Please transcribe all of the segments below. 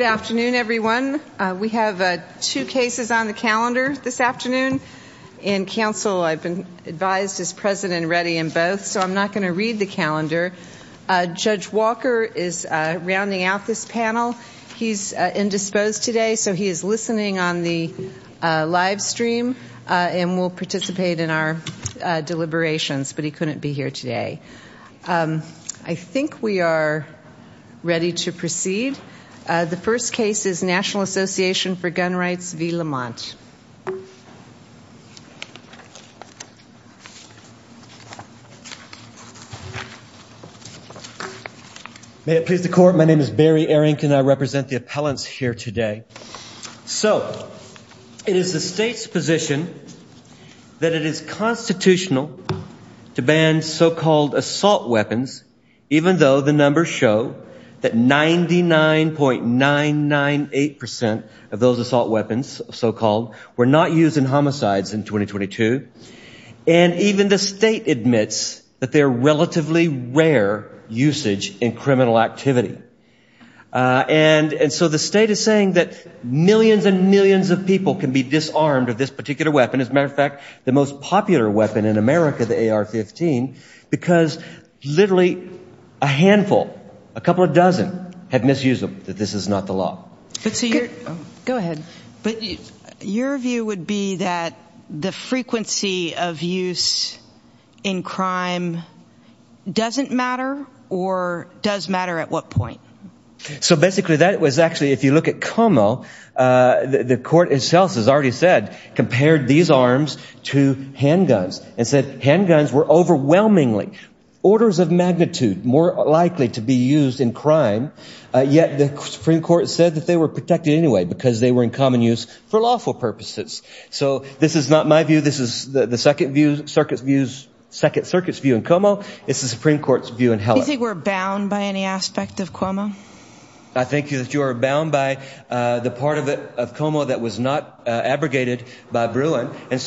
Good afternoon, everyone. We have two cases on the calendar this afternoon, and counsel, I've been advised, is present and ready in both, so I'm not going to read the calendar. Judge Walker is rounding out this panel. He's indisposed today, so he is listening on the live stream and will participate in our deliberations, but he couldn't be here today. I think we are ready to proceed. The first case is National Association for Gun Rights v. Lamont. May it please the court, my name is Barry Ehrink and I represent the appellants here today. So, it is the state's position that it is constitutional to ban so-called assault weapons, even though the numbers show that 99.998% of those assault weapons, so-called, were not used in homicides in 2022. And even the state admits that they're relatively rare usage in criminal activity. And so the state is saying that millions and millions of people can be disarmed of this particular weapon. As a matter of fact, the most popular weapon in America, the AR-15, because literally a handful, a couple of dozen, have misused them, that this is not the law. Go ahead. But your view would be that the frequency of use in crime doesn't matter or does matter at what point? So basically, that was actually, if you look at Como, the court itself has already said, compared these arms to handguns and said handguns were overwhelmingly, orders of magnitude, more likely to be used in crime. Yet the Supreme Court said that they were protected anyway because they were in common use for lawful purposes. So this is not my view. This is the second view, Circuit's view in Como. It's the Supreme Court's view in Heller. Do you think we're bound by any aspect of Como? I think that you are bound by the part of Como that was not abrogated by Bruin. And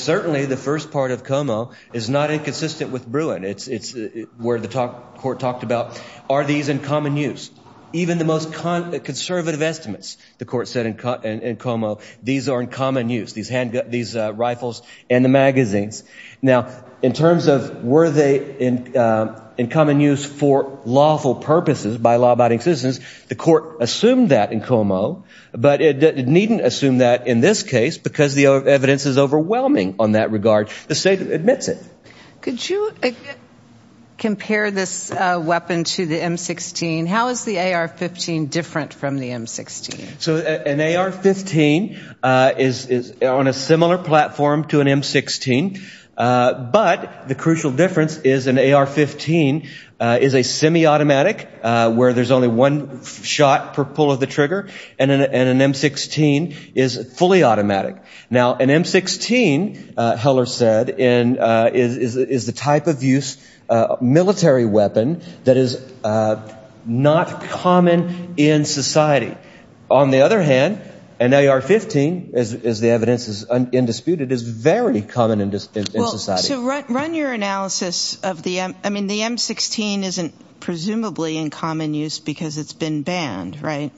is not inconsistent with Bruin. It's where the court talked about, are these in common use? Even the most conservative estimates, the court said in Como, these are in common use, these rifles and the magazines. Now, in terms of were they in common use for lawful purposes by law-abiding citizens, the court assumed that in Como, but it needn't assume that in this case because the evidence is overwhelming on that regard. The state admits it. Could you compare this weapon to the M16? How is the AR-15 different from the M16? So an AR-15 is on a similar platform to an M16, but the crucial difference is an AR-15 is a semi-automatic where there's only one shot per pull of the trigger, and an M16 is fully automatic. Now, an M16, Heller said, is the type of use military weapon that is not common in society. On the other hand, an AR-15, as the evidence is undisputed, is very common in society. So run your analysis of the M, I mean, the M16 isn't presumably in common use because it's been banned, right?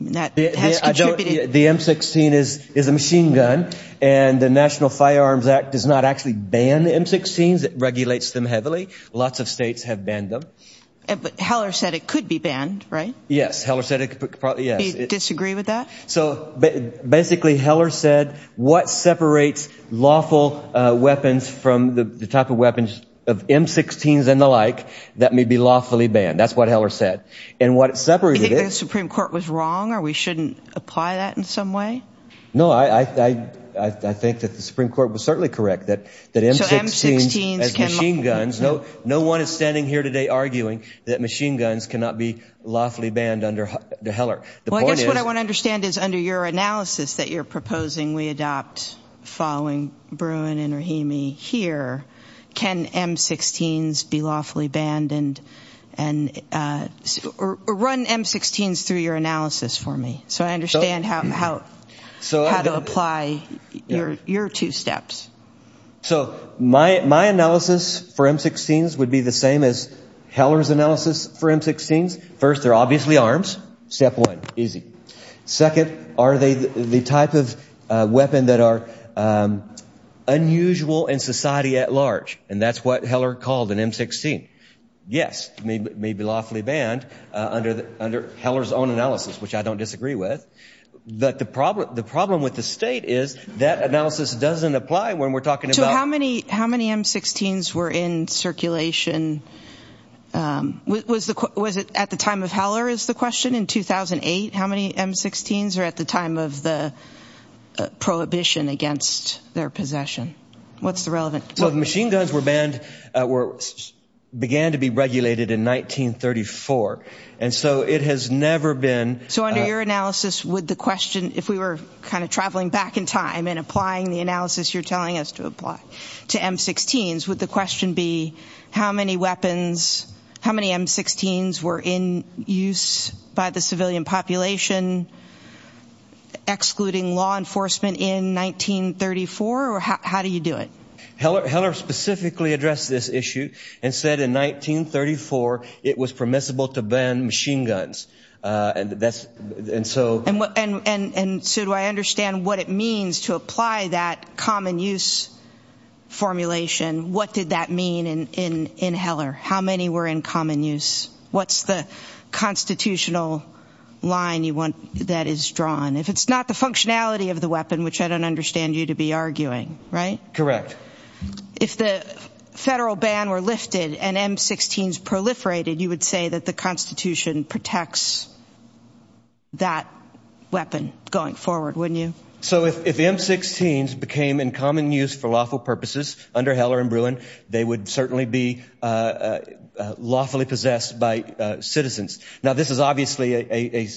The M16 is a machine gun, and the National Firearms Act does not actually ban the M16s. It regulates them heavily. Lots of states have banned them. But Heller said it could be banned, right? Yes, Heller said it could probably, yes. Do you disagree with that? So basically, Heller said what separates lawful weapons from the type of weapons of M16s and the like that may be lawfully banned. That's what Heller said. And what it separated is Do you think the Supreme Court was wrong or we shouldn't apply that in some way? No, I think that the Supreme Court was certainly correct that M16s as machine guns, no one is standing here today arguing that machine guns cannot be lawfully banned under Heller. Well, I guess what I want to understand is under your analysis that you're proposing we adopt following Bruin and Rahimi here, can M16s be lawfully banned and run M16s through your analysis for me so I understand how to apply your two steps. So my analysis for M16s would be the same as Heller's analysis for M16s. First, they're the arms. Step one, easy. Second, are they the type of weapon that are unusual in society at large? And that's what Heller called an M16. Yes, it may be lawfully banned under Heller's own analysis, which I don't disagree with. But the problem with the state is that analysis doesn't apply when we're talking about How many M16s were in circulation? Was it at the time of Heller is the question? In 2008, how many M16s were at the time of the prohibition against their possession? What's the relevant? So the machine guns began to be regulated in 1934. And so it has never been So under your analysis, would the question, if we were kind of traveling back in time and applying the analysis you're telling us to apply to M16s, would the question be how many weapons, how many M16s were in use by the civilian population, excluding law enforcement in 1934? Or how do you do it? Heller specifically addressed this issue and said in 1934 it was permissible to ban machine guns. And that's, and so And so do I understand what it means to apply that common use formulation? What did that mean in Heller? How many were in common use? What's the constitutional line you want that is drawn? If it's not the functionality of the weapon, which I don't understand you to be arguing, right? Correct. If the federal ban were lifted and M16s proliferated, you would say that the Constitution protects that weapon going forward, wouldn't you? So if M16s became in common use for lawful purposes under Heller and Bruin, they would certainly be lawfully possessed by citizens. Now, this is obviously a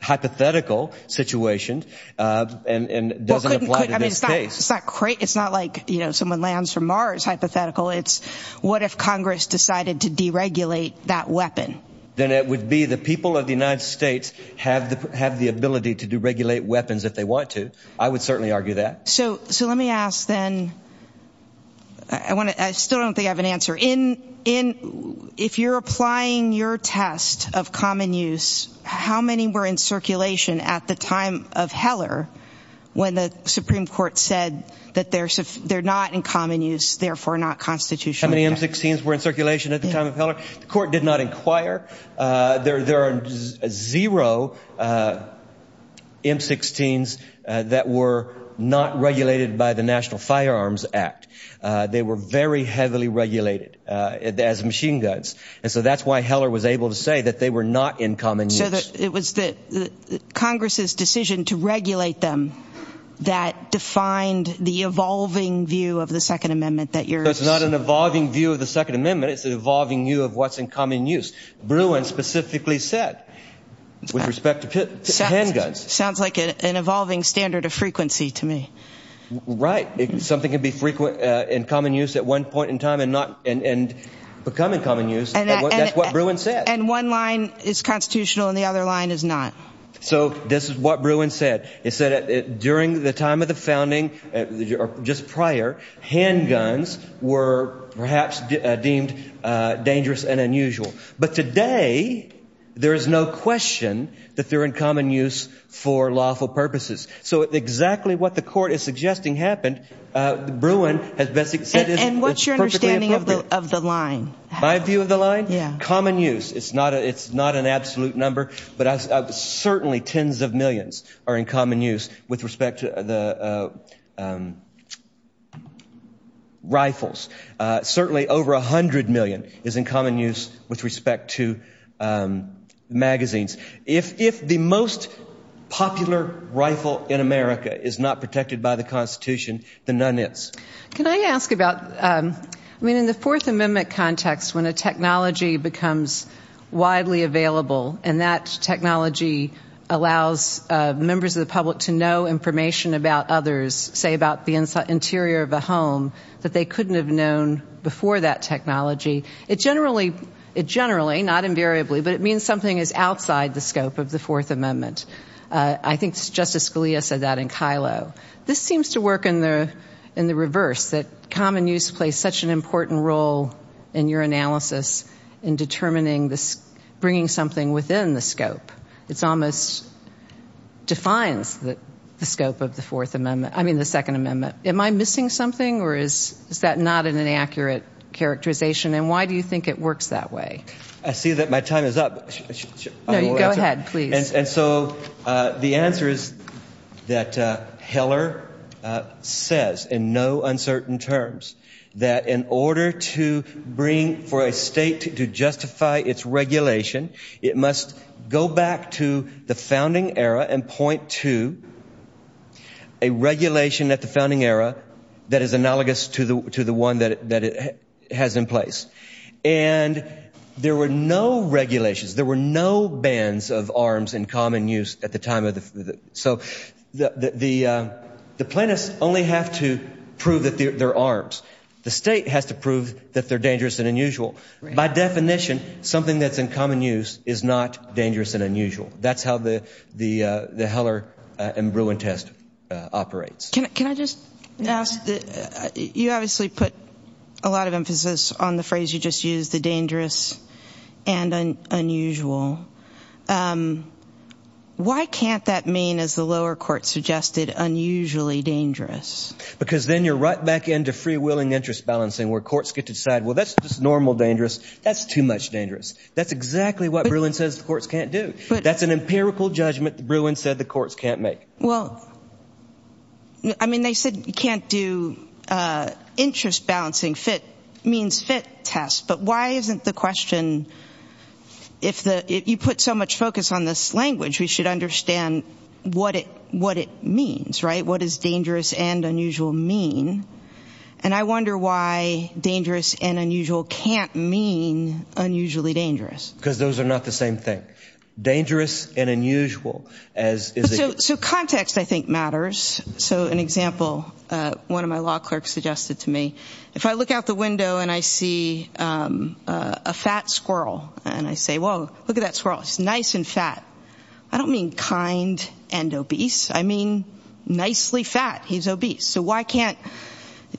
hypothetical situation and doesn't apply to this case. It's not like, you know, someone lands from Mars, hypothetical. It's what if Congress decided to deregulate that weapon? Then it would be the people of the United States have the, have the ability to deregulate weapons if they want to. I would certainly argue that. So, so let me ask then, I want to, I still don't think I have an answer. In, in, if you're applying your test of common use, how many were in circulation at the time of Heller when the Supreme Court said that they're, they're not in common use, therefore not constitutional? How many M16s were in circulation at the time of Heller? The court did not inquire. Uh, there, there are zero, uh, M16s, uh, that were not regulated by the National Firearms Act. Uh, they were very heavily regulated, uh, as machine guns. And so that's why Heller was able to say that they were not in common use. So that it was the Congress's decision to regulate them that defined the evolving view of the second amendment that you're So it's not an evolving view of the second amendment. It's an evolving view of what's in common use. Bruin specifically said with respect to handguns. Sounds like an evolving standard of frequency to me. Right. Something can be frequent, uh, in common use at one point in time and not, and, and become in common use. That's what Bruin said. And one line is constitutional and the other line is not. So this is what Bruin said. It said that during the time of the founding, uh, just prior, handguns were perhaps deemed, uh, dangerous and unusual. But today there is no question that they're in common use for lawful purposes. So exactly what the court is suggesting happened. Uh, Bruin has basically said, And what's your understanding of the, of the line? My view of the line? Yeah. Common use. It's not a, it's not an absolute number, but I was certainly tens of millions are in common use with respect to the, uh, um, rifles. Uh, certainly over a hundred million is in common use with respect to, um, magazines. If, if the most popular rifle in America is not protected by the constitution, then none is. Can I ask about, um, I mean, in the fourth amendment context, when a technology becomes widely available and that technology allows, uh, members of the public to know information about others, say about the interior of a home, that they couldn't have known before that technology. It generally, it generally, not invariably, but it means something is outside the scope of the fourth amendment. Uh, I think Justice Scalia said that in Kylo. This seems to work in the, in the reverse, that common use plays such an important role in your analysis in determining this, bringing something within the scope. It's almost defines the scope of the fourth amendment. I mean, the second amendment. Am I missing something or is, is that not an inaccurate characterization? And why do you think it works that way? I see that my time is up. Go ahead, please. And, and so, uh, the answer is that, uh, Heller, uh, says in no uncertain terms, that in order to bring for a state to justify its regulation, it must go back to the founding era and point to a regulation at the founding era that is analogous to the, to the one that, that it has in place. And there were no regulations. There were no bans of arms in common use at the time of the, so the, the, uh, the plaintiffs only have to prove that they're, they're arms. The state has to prove that they're dangerous and unusual. By definition, something that's in common use is not dangerous and unusual. That's how the, the, uh, the Heller and Bruin test, uh, operates. Can I, can I just ask that you obviously put a lot of emphasis on the phrase you just used, the dangerous and unusual. Um, why can't that mean, as the lower court suggested, unusually dangerous? Because then you're right back into freewheeling interest balancing where courts get to decide, well, that's just normal dangerous. That's too much dangerous. That's exactly what Bruin says the courts can't do. That's an empirical judgment that Bruin said the courts can't make. Well, I mean, they said you can't do, uh, interest balancing. Fit means fit test, but why isn't the question, if the, if you put so much focus on this language, we should understand what it, what it means, right? What is dangerous and unusual mean? And I wonder why dangerous and unusual can't mean unusually dangerous. Because those are not the same thing. Dangerous and unusual as is. So, so context I think matters. So an example, uh, one of my law clerks suggested to me, if I look out the window and I see, um, uh, a fat squirrel and I say, whoa, look at that squirrel. It's nice and fat. I don't mean kind and obese. I mean nicely fat. He's obese. So why can't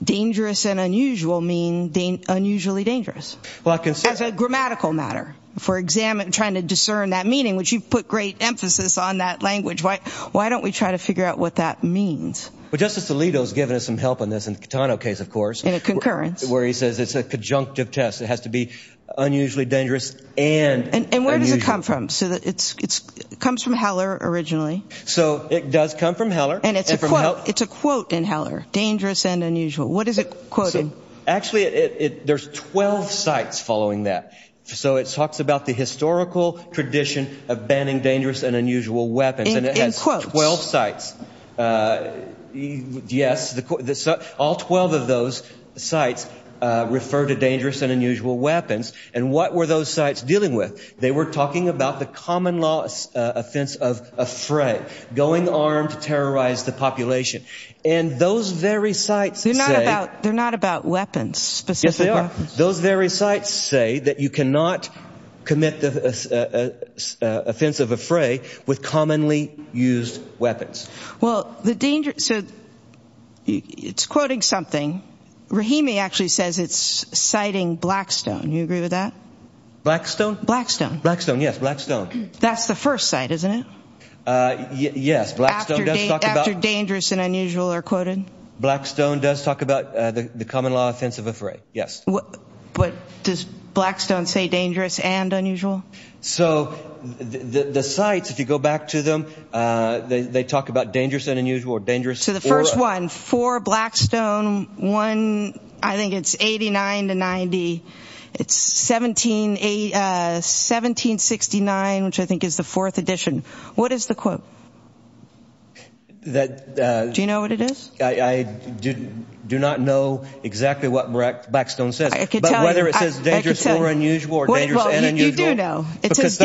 dangerous and unusual mean unusually dangerous? Well, I can say... As a grammatical matter. If we're examine, trying to discern that meaning, which you've put great emphasis on that language, why, why don't we try to figure out what that means? Well, Justice Alito has given us some help on this, in the Catano case, of course. In a concurrence. Where he says it's a conjunctive test. It has to be unusually dangerous and unusual. And where does it come from? So it's, it's, it comes from Heller originally. So it does come from Heller. And it's a quote. It's a quote in Heller. Dangerous and unusual. What is it quoting? Actually, it, it, there's 12 sites following that. So it talks about the historical tradition of banning dangerous and unusual weapons. In quotes. And it has 12 sites. Yes. All 12 of those sites refer to dangerous and unusual weapons. And what were those sites dealing with? They were talking about the common law offense of affray. Going armed to terrorize the population. And those very sites say... They're not about, they're not about weapons. Yes, they are. Those very sites say that you cannot commit the offense of affray with commonly used weapons. Yes. Well, the danger... So it's quoting something. Rahimi actually says it's citing Blackstone. Do you agree with that? Blackstone? Blackstone. Blackstone. Yes. Blackstone. That's the first site, isn't it? Yes. Blackstone does talk about... After dangerous and unusual are quoted? Blackstone does talk about the common law offense of affray. Yes. But does Blackstone say dangerous and unusual? So the sites, if you go back to them, they talk about dangerous and unusual. So the first one, for Blackstone, I think it's 89 to 90. It's 1769, which I think is the fourth edition. What is the quote? Do you know what it is? I do not know exactly what Blackstone says. I can tell you. But whether it says dangerous or unusual or dangerous and unusual... I do know. Because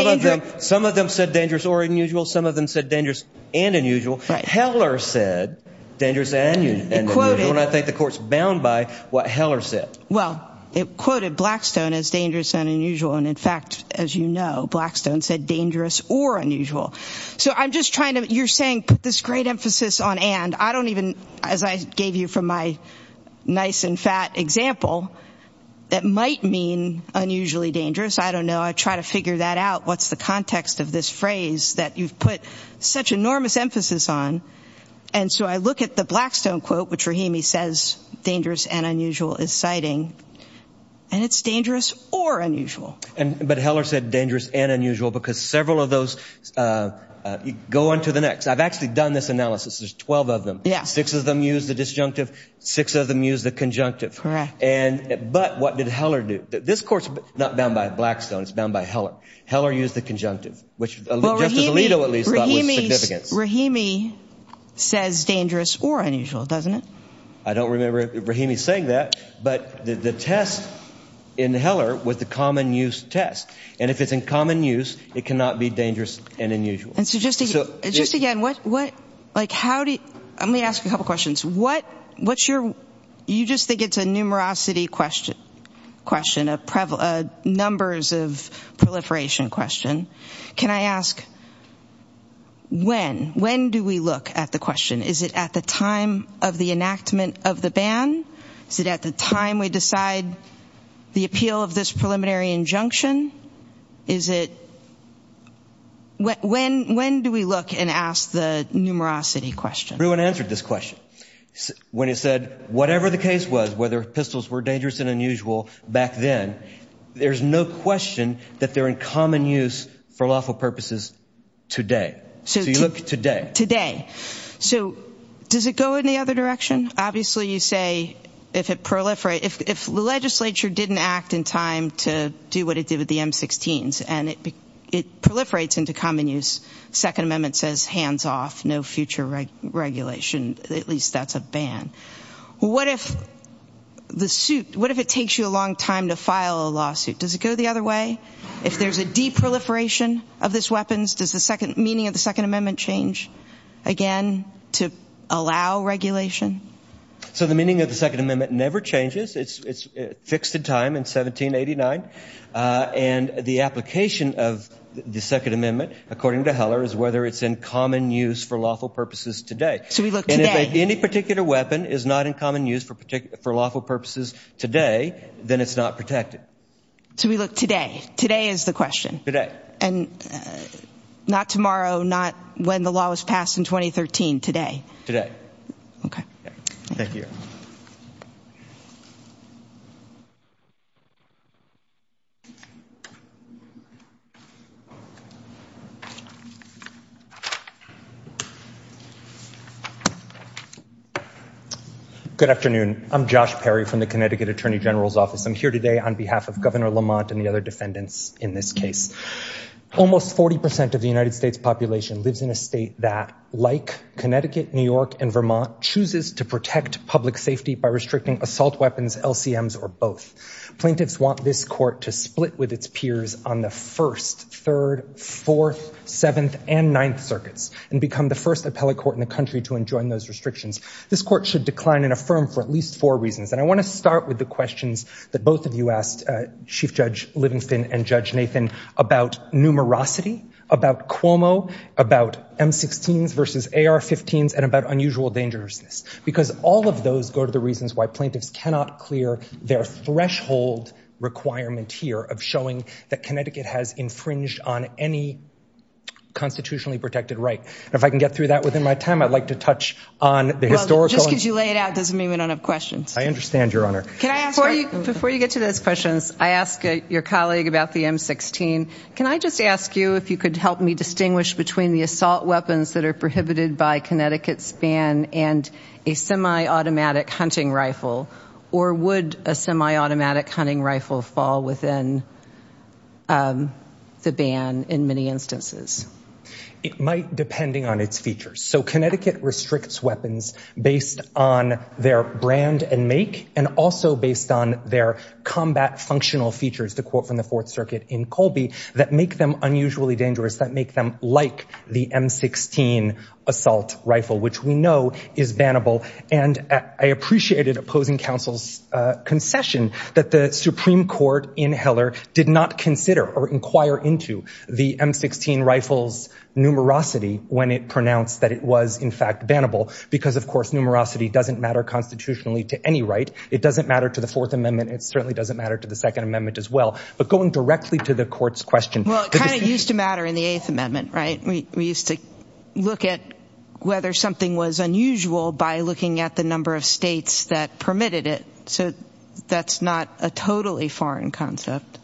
some of them said dangerous or unusual. Some of them said dangerous and unusual. Heller said dangerous and unusual. And I think the court's bound by what Heller said. Well, it quoted Blackstone as dangerous and unusual. And in fact, as you know, Blackstone said dangerous or unusual. So I'm just trying to... You're saying put this great emphasis on and. I don't even... As I gave you from my nice and fat example, that might mean unusually dangerous. I don't know. I try to figure that out. What's the context of this phrase that you've put such enormous emphasis on? And so I look at the Blackstone quote, which Rahimi says dangerous and unusual is citing. And it's dangerous or unusual. But Heller said dangerous and unusual because several of those go on to the next. I've actually done this analysis. There's 12 of them. Six of them use the disjunctive. Six of them use the conjunctive. Correct. But what did Heller do? This course is not bound by Blackstone. It's bound by Heller. Heller used the conjunctive, which just as Alito at least thought was significant. Rahimi says dangerous or unusual, doesn't it? I don't remember Rahimi saying that. But the test in Heller was the common use test. And if it's in common use, it cannot be dangerous and unusual. And so just again, what... Like, how do you... Let me ask you a couple of questions. What's your... You just think it's a numerosity question, a numbers of proliferation question. Can I ask when? When do we look at the question? Is it at the time of the enactment of the ban? Is it at the time we decide the appeal of this preliminary injunction? Is it... When do we look and ask the numerosity question? Everyone answered this question when it said whatever the case was, whether pistols were dangerous and unusual back then, there's no question that they're in common use for lawful purposes today. So you look today. So does it go in the other direction? Obviously, you say if it proliferates... If the legislature didn't act in time to do what it did with the M-16s and it proliferates into common use, Second Amendment says hands off, no future regulation. At least that's a ban. What if the suit... What if it takes you a long time to file a lawsuit? Does it go the other way? If there's a de-proliferation of these weapons, does the meaning of the Second Amendment change again to allow regulation? So the meaning of the Second Amendment never changes. It's fixed in time in 1789. And the application of the Second Amendment, according to Heller, is whether it's in common use for lawful purposes today. So we look today. And if any particular weapon is not in common use for lawful purposes today, then it's not protected. So we look today. Today is the question. Today. And not tomorrow, not when the law was passed in 2013. Today. Today. Okay. Thank you. Thank you. Good afternoon. I'm Josh Perry from the Connecticut Attorney General's Office. I'm here today on behalf of Governor Lamont and the other defendants in this case. Almost 40% of the United States population lives in a state that, like Connecticut, New York, and Vermont, chooses to protect public safety by restricting assault weapons, LCMs, or both. Plaintiffs want this court to split with its peers on the First, Third, Fourth, Seventh, and Ninth Circuits and become the first appellate court in the country to enjoin those restrictions. This court should decline and affirm for at least four reasons. And I want to start with the questions that both of you asked Chief Judge Livingston and Judge Nathan about numerosity, about Cuomo, about M-16s versus AR-15s, and about unusual dangerousness. Because all of those go to the reasons why plaintiffs cannot clear their threshold requirement here of showing that Connecticut has infringed on any constitutionally protected right. And if I can get through that within my time, I'd like to touch on the historical— Well, just because you lay it out doesn't mean we don't have questions. I understand, Your Honor. Before you get to those questions, I asked your colleague about the M-16. Can I just ask you if you could help me distinguish between the assault weapons that are prohibited by Connecticut's ban and a semi-automatic hunting rifle, or would a semi-automatic hunting rifle fall within the ban in many instances? It might, depending on its features. So Connecticut restricts weapons based on their brand and make and also based on their combat functional features, to quote from the Fourth Circuit in Colby, that make them unusually dangerous, that make them like the M-16 assault rifle, which we know is bannable. And I appreciated opposing counsel's concession that the Supreme Court in Heller did not consider or inquire into the M-16 rifle's numerosity when it pronounced that it was, in fact, bannable. Because, of course, numerosity doesn't matter constitutionally to any right. It doesn't matter to the Fourth Amendment. It certainly doesn't matter to the Second Amendment as well. But going directly to the court's question— Well, it kind of used to matter in the Eighth Amendment, right? We used to look at whether something was unusual by looking at the number of states that permitted it. So that's not a totally foreign concept.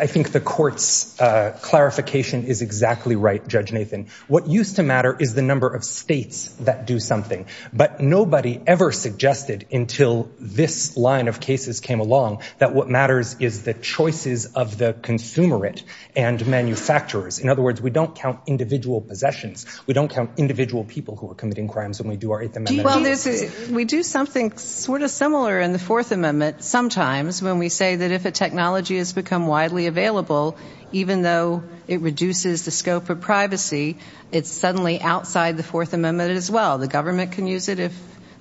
I think the court's clarification is exactly right, Judge Nathan. What used to matter is the number of states that do something. But nobody ever suggested until this line of cases came along that what matters is the choices of the consumerate and manufacturers. In other words, we don't count individual possessions. We don't count individual people who are committing crimes when we do our Eighth Amendment. Well, this is— We do something sort of similar in the Fourth Amendment sometimes when we say that if a technology has become widely available, even though it reduces the scope of privacy, it's suddenly outside the Fourth Amendment as well. The government can use it if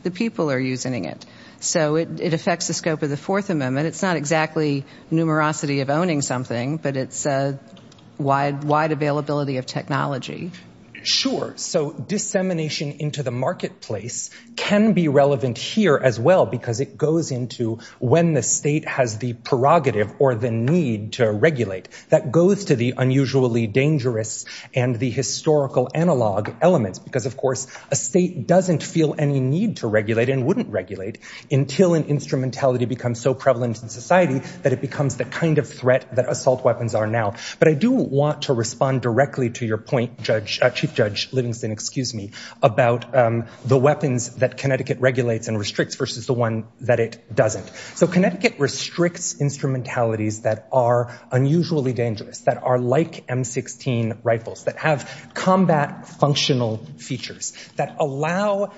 the people are using it. So it affects the scope of the Fourth Amendment. It's not exactly numerosity of owning something, but it's a wide availability of technology. Sure. So dissemination into the marketplace can be relevant here as well because it goes into when the state has the prerogative or the need to regulate. That goes to the unusually dangerous and the historical analog elements because, of course, a state doesn't feel any need to regulate and wouldn't regulate until an instrumentality becomes so prevalent in society that it becomes the kind of threat that assault weapons are now. But I do want to respond directly to your point, Chief Judge Livingston, excuse me, about the weapons that Connecticut regulates and restricts versus the one that it doesn't. So Connecticut restricts instrumentalities that are unusually dangerous, that are like M16 rifles, that have combat functional features, that allow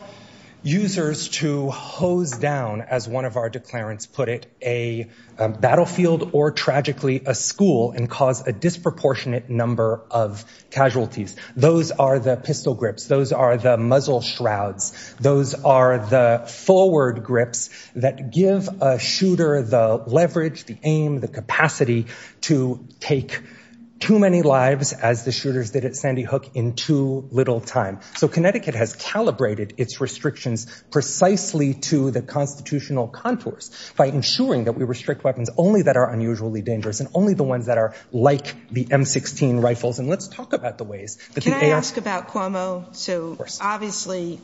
users to hose down, as one of our declarants put it, a battlefield or, tragically, a school and cause a disproportionate number of casualties. Those are the pistol grips. Those are the muzzle shrouds. Those are the forward grips that give a shooter the leverage, the aim, the capacity to take too many lives as the shooters did at Sandy Hook in too little time. So Connecticut has calibrated its restrictions precisely to the constitutional contours by ensuring that we restrict weapons only that are unusually dangerous and only the ones that are like the M16 rifles. And let's talk about the ways... Can I ask about Cuomo? So obviously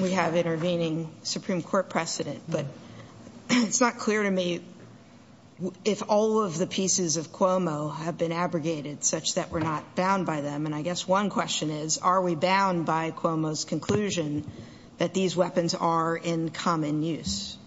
we have intervening Supreme Court precedent, but it's not clear to me if all of the pieces of Cuomo have been abrogated such that we're not bound by them. And I guess one question is, are we bound by Cuomo's conclusion that these weapons are in common use?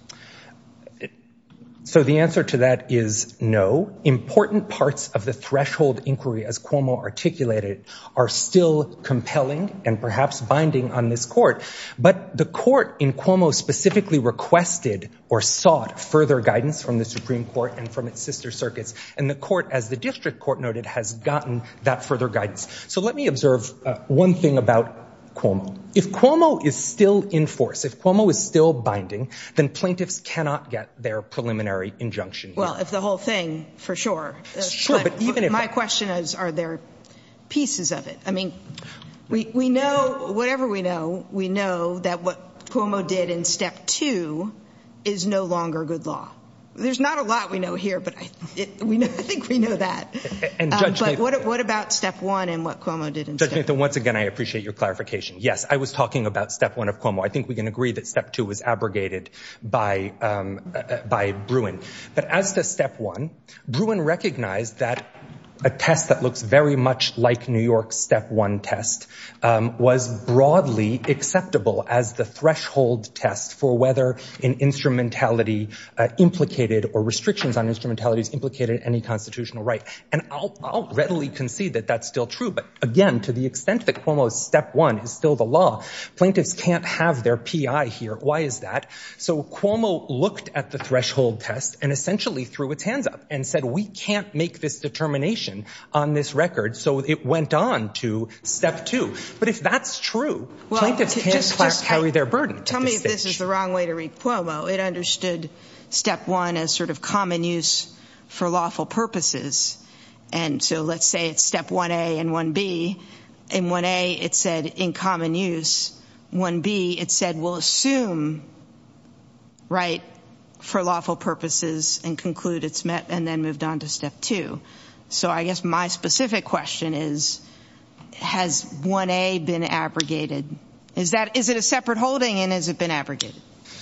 So the answer to that is no. Important parts of the threshold inquiry as Cuomo articulated are still compelling and perhaps binding on this court. But the court in Cuomo specifically requested or sought further guidance from the Supreme Court and from its sister circuits. And the court, as the district court noted, has gotten that further guidance. So let me observe one thing about Cuomo. If Cuomo is still in force, if Cuomo is still binding, then plaintiffs cannot get their preliminary injunction. Well, if the whole thing, for sure. Sure, but even if... My question is, are there pieces of it? I mean, we know, whatever we know, we know that what Cuomo did in Step 2 is no longer good law. There's not a lot we know here, but I think we know that. And Judge Nathan... But what about Step 1 and what Cuomo did in Step 2? Judge Nathan, once again, I appreciate your clarification. Yes, I was talking about Step 1 of Cuomo. I think we can agree that Step 2 was abrogated by Bruin. But as to Step 1, Bruin recognized that a test that looks very much like New York's Step 1 test was broadly acceptable as the threshold test for whether an instrumentality implicated or restrictions on instrumentalities implicated any constitutional right. And I'll readily concede that that's still true. But again, to the extent that Cuomo's Step 1 is still the law, plaintiffs can't have their P.I. here. Why is that? So Cuomo looked at the threshold test and essentially threw its hands up and said, we can't make this determination on this record. So it went on to Step 2. But if that's true, plaintiffs can't carry their burden. Tell me if this is the wrong way to read Cuomo. It understood Step 1 as sort of common use for lawful purposes. And so let's say it's Step 1A and 1B. And 1A, it said, in common use. 1B, it said, we'll assume right for lawful purposes and conclude it's met and then moved on to Step 2. So I guess my specific question is, has 1A been abrogated? Is it a separate holding, and has it been abrogated?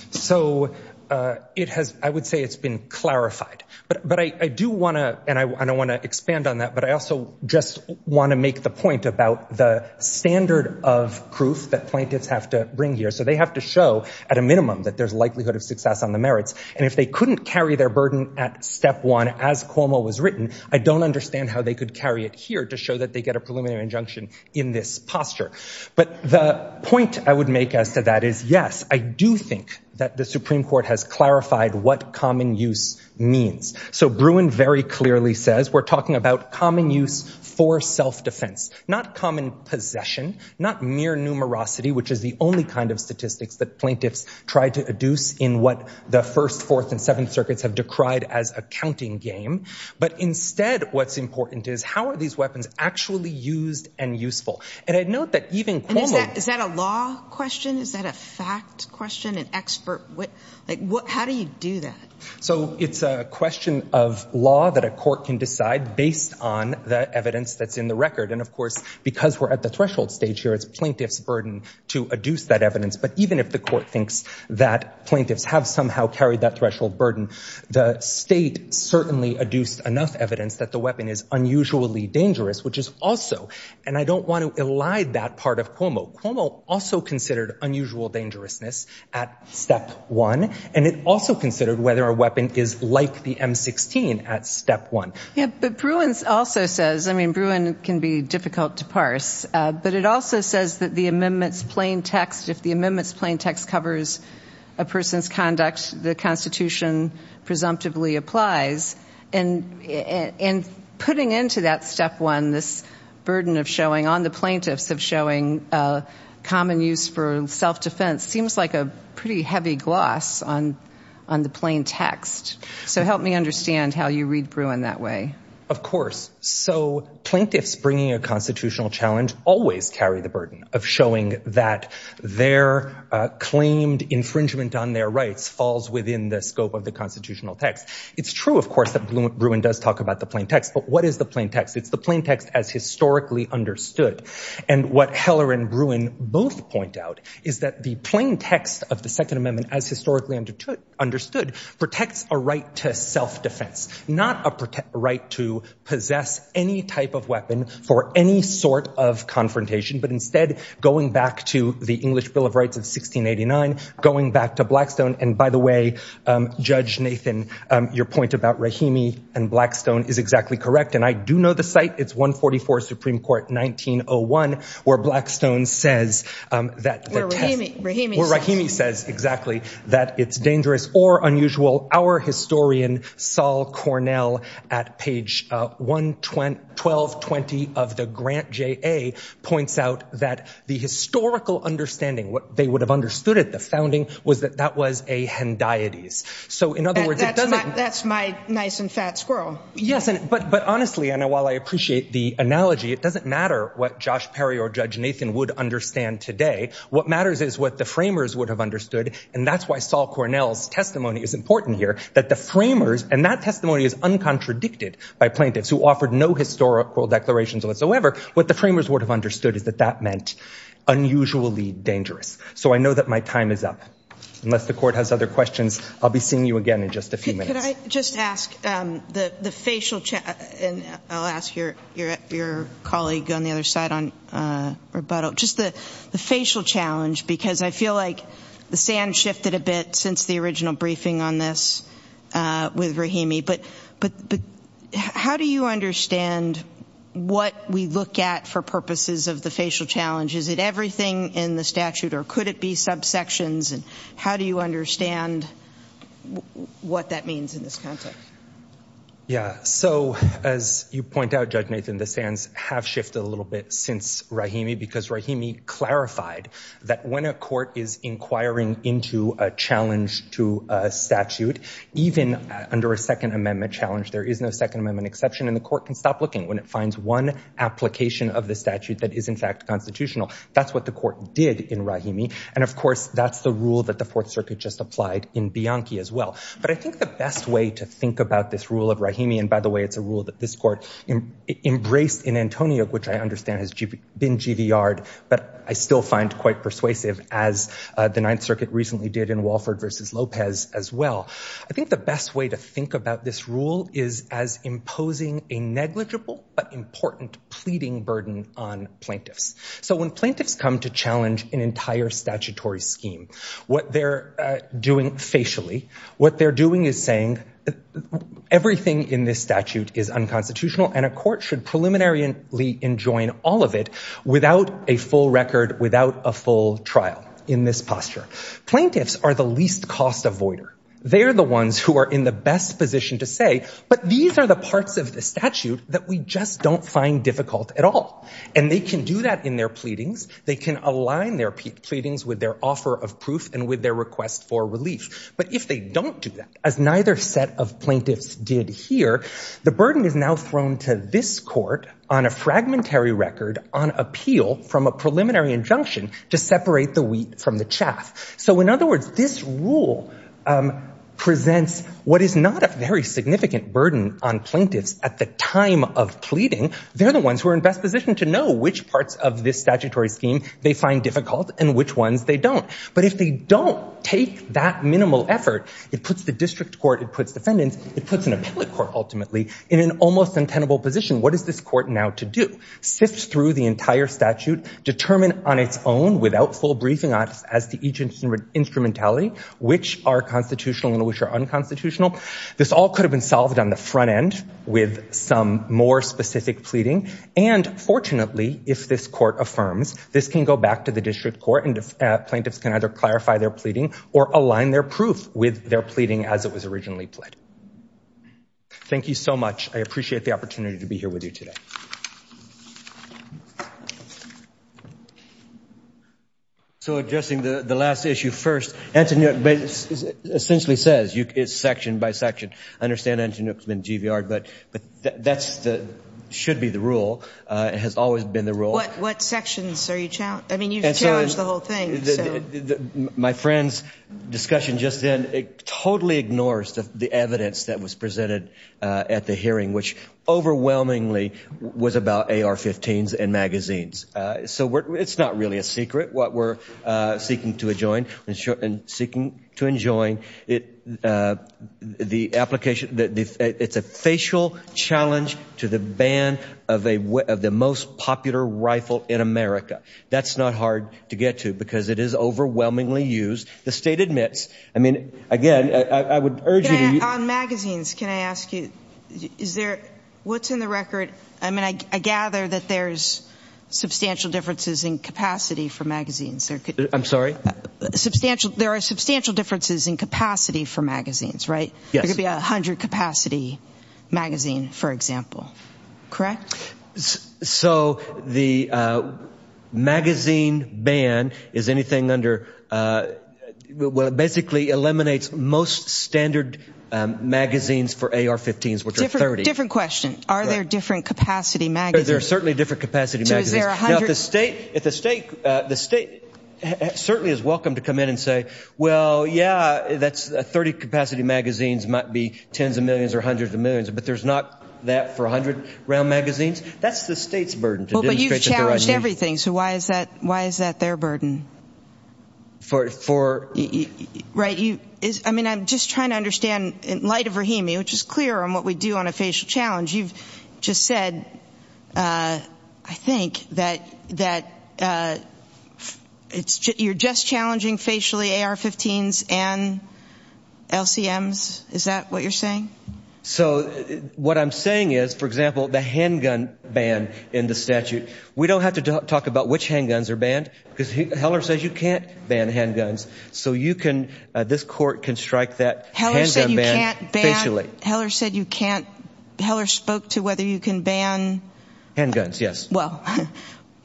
So I would say it's been clarified. But I do want to, and I want to expand on that, but I also just want to make the point about the standard of proof that plaintiffs have to bring here. So they have to show, at a minimum, that there's a likelihood of success on the merits. And if they couldn't carry their burden at Step 1, as Cuomo was written, I don't understand how they could carry it here to show that they get a preliminary injunction in this posture. But the point I would make as to that is, yes, I do think that the Supreme Court has clarified what common use means. So Bruin very clearly says, we're talking about common use for self-defense, not common possession, not mere numerosity, which is the only kind of statistics that plaintiffs try to deduce in what the First, Fourth, and Seventh Circuits have decried as a counting game. But instead, what's important is, how are these weapons actually used and useful? And I'd note that even Cuomo- And is that a law question? Is that a fact question? An expert? How do you do that? So it's a question of law that a court can decide based on the evidence that's in the record. And of course, because we're at the threshold stage here, it's plaintiff's burden to adduce that evidence. But even if the court thinks that plaintiffs have somehow carried that threshold burden, the state certainly adduced enough evidence that the weapon is unusually dangerous, which is also- And I don't want to elide that part of Cuomo. Cuomo also considered unusual dangerousness at Step 1. And it also considered whether a weapon is like the M-16 at Step 1. Yeah, but Bruins also says- I mean, Bruins can be difficult to parse. But it also says that the amendment's plain text, if the amendment's plain text covers a person's conduct, the Constitution presumptively applies. And putting into that Step 1, this burden of showing, on the plaintiffs, of showing common use for self-defense seems like a pretty heavy gloss on the plain text. So help me understand how you read Bruin that way. Of course. So plaintiffs bringing a constitutional challenge always carry the burden of showing that their claimed infringement on their rights falls within the scope of the constitutional text. It's true, of course, that Bruin does talk about the plain text. But what is the plain text? It's the plain text as historically understood. And what Heller and Bruin both point out is that the plain text of the Second Amendment as historically understood protects a right to self-defense, not a right to possess any type of weapon for any sort of confrontation, but instead going back to the English Bill of Rights of 1689, going back to Blackstone. And by the way, Judge Nathan, your point about Rahimi and Blackstone is exactly correct. And I do know the site. It's 144 Supreme Court, 1901, where Blackstone says that... Where Rahimi says... Where Rahimi says, exactly, that it's dangerous or unusual. Our historian, Saul Cornell, at page 1220 of the Grant JA, points out that the historical understanding, what they would have understood at the founding, was that that was a Hendieties. So in other words, it doesn't... That's my nice and fat squirrel. Yes, but honestly, and while I appreciate the analogy, it doesn't matter what Josh Perry or Judge Nathan would understand today. What matters is what the framers would have understood, and that's why Saul Cornell's testimony is important here, that the framers... And that testimony is uncontradicted by plaintiffs who offered no historical declarations whatsoever. What the framers would have understood is that that meant unusually dangerous. So I know that my time is up. Unless the court has other questions, I'll be seeing you again in just a few minutes. Could I just ask the facial... And I'll ask your colleague on the other side on rebuttal. Just the facial challenge, because I feel like the sand shifted a bit since the original briefing on this with Rahimi. But how do you understand what we look at for purposes of the facial challenge? Is it everything in the statute, or could it be subsections? And how do you understand what that means in this context? Yeah, so as you point out, Judge Nathan, the sands have shifted a little bit since Rahimi because Rahimi clarified that when a court is inquiring into a challenge to a statute, even under a Second Amendment challenge, there is no Second Amendment exception, and the court can stop looking when it finds one application of the statute that is in fact constitutional. That's what the court did in Rahimi. And of course, that's the rule that the Fourth Circuit just applied in Bianchi as well. But I think the best way to think about this rule of Rahimi, and by the way, it's a rule that this court embraced in Antonio, which I understand has been GVR'd, but I still find quite persuasive, as the Ninth Circuit recently did in Walford v. Lopez as well. I think the best way to think about this rule is as imposing a negligible but important pleading burden on plaintiffs. So when plaintiffs come to challenge an entire statutory scheme, what they're doing facially, what they're doing is saying everything in this statute is unconstitutional, and a court should preliminarily enjoin all of it without a full record, without a full trial, in this posture. Plaintiffs are the least cost avoider. They are the ones who are in the best position to say, but these are the parts of the statute that we just don't find difficult at all. And they can do that in their pleadings, they can align their pleadings with their offer of proof and with their request for relief. But if they don't do that, as neither set of plaintiffs did here, the burden is now thrown to this court on a fragmentary record on appeal from a preliminary injunction to separate the wheat from the chaff. So in other words, this rule presents what is not a very significant burden on plaintiffs at the time of pleading. They're the ones who are in the best position to know which parts of this statutory scheme they find difficult and which ones they don't. But if they don't take that minimal effort, it puts the district court, it puts defendants, it puts an appellate court ultimately in an almost untenable position. What is this court now to do? Sift through the entire statute, determine on its own, without full briefing on it, as to each instrumentality, which are constitutional and which are unconstitutional. This all could have been solved on the front end with some more specific pleading. And fortunately, if this court affirms, this can go back to the district court and plaintiffs can either clarify their pleading or align their proof with their pleading as it was originally pled. Thank you so much. I appreciate the opportunity to be here with you today. So addressing the last issue first, Antoinette essentially says, it's section by section. I understand Antoinette has been GVR'd, but that should be the rule. It has always been the rule. What sections are you challenging? I mean, you've challenged the whole thing. My friend's discussion just then, it totally ignores the evidence that was presented at the hearing, which overwhelmingly was about AR-15s and magazines. So it's not really a secret what we're seeking to adjoin and seeking to enjoin. It's a facial challenge to the ban of the most popular rifle in America. That's not hard to get to because it is overwhelmingly used. The state admits. I mean, again, I would urge you to... On magazines, can I ask you, is there, what's in the record? I mean, I gather that there's substantial differences in capacity for magazines. I'm sorry? There are substantial differences in capacity for magazines, right? Yes. It could be a 100-capacity magazine, for example, correct? So the magazine ban is anything under... Well, it basically eliminates most standard magazines for AR-15s, which are 30. Different question. Are there different capacity magazines? There are certainly different capacity magazines. So is there a 100... Now, the state certainly is welcome to come in and say, well, yeah, 30-capacity magazines might be tens of millions or hundreds of millions, but there's not that for 100-round magazines? That's the state's burden to demonstrate that there are... But you've challenged everything, so why is that their burden? For... Right, you... I mean, I'm just trying to understand in light of Rahimi, which is clear on what we do on a facial challenge, you've just said, I think, that you're just challenging facially AR-15s and LCMs. Is that what you're saying? So what I'm saying is, for example, the handgun ban in the statute, we don't have to talk about which handguns are banned, because Heller says you can't ban handguns. So you can... This court can strike that handgun ban facially. Heller said you can't... Heller said you can't... Heller spoke to whether you can ban... Handguns, yes. Well,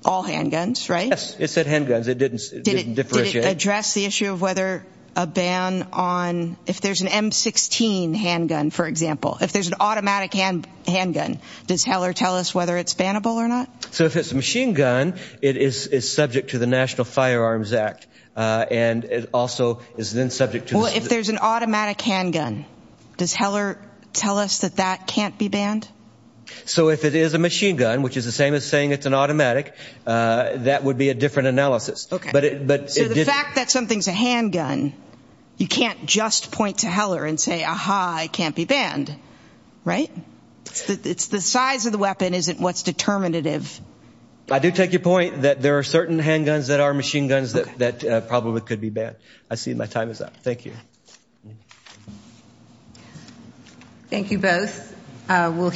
all handguns, right? Yes. It said handguns. It didn't differentiate. Did it address the issue of whether a ban on... If there's an M-16 handgun, for example, if there's an automatic handgun, does Heller tell us whether it's bannable or not? So if it's a machine gun, it is subject to the National Firearms Act, and it also is then subject to... Well, if there's an automatic handgun, does Heller tell us that that can't be banned? So if it is a machine gun, which is the same as saying it's an automatic, that would be a different analysis. So the fact that something's a handgun, you can't just point to Heller and say, aha, it can't be banned, right? It's the size of the weapon isn't what's determinative. I do take your point that there are certain handguns that are machine guns that probably could be banned. I see my time is up. Thank you. Thank you both.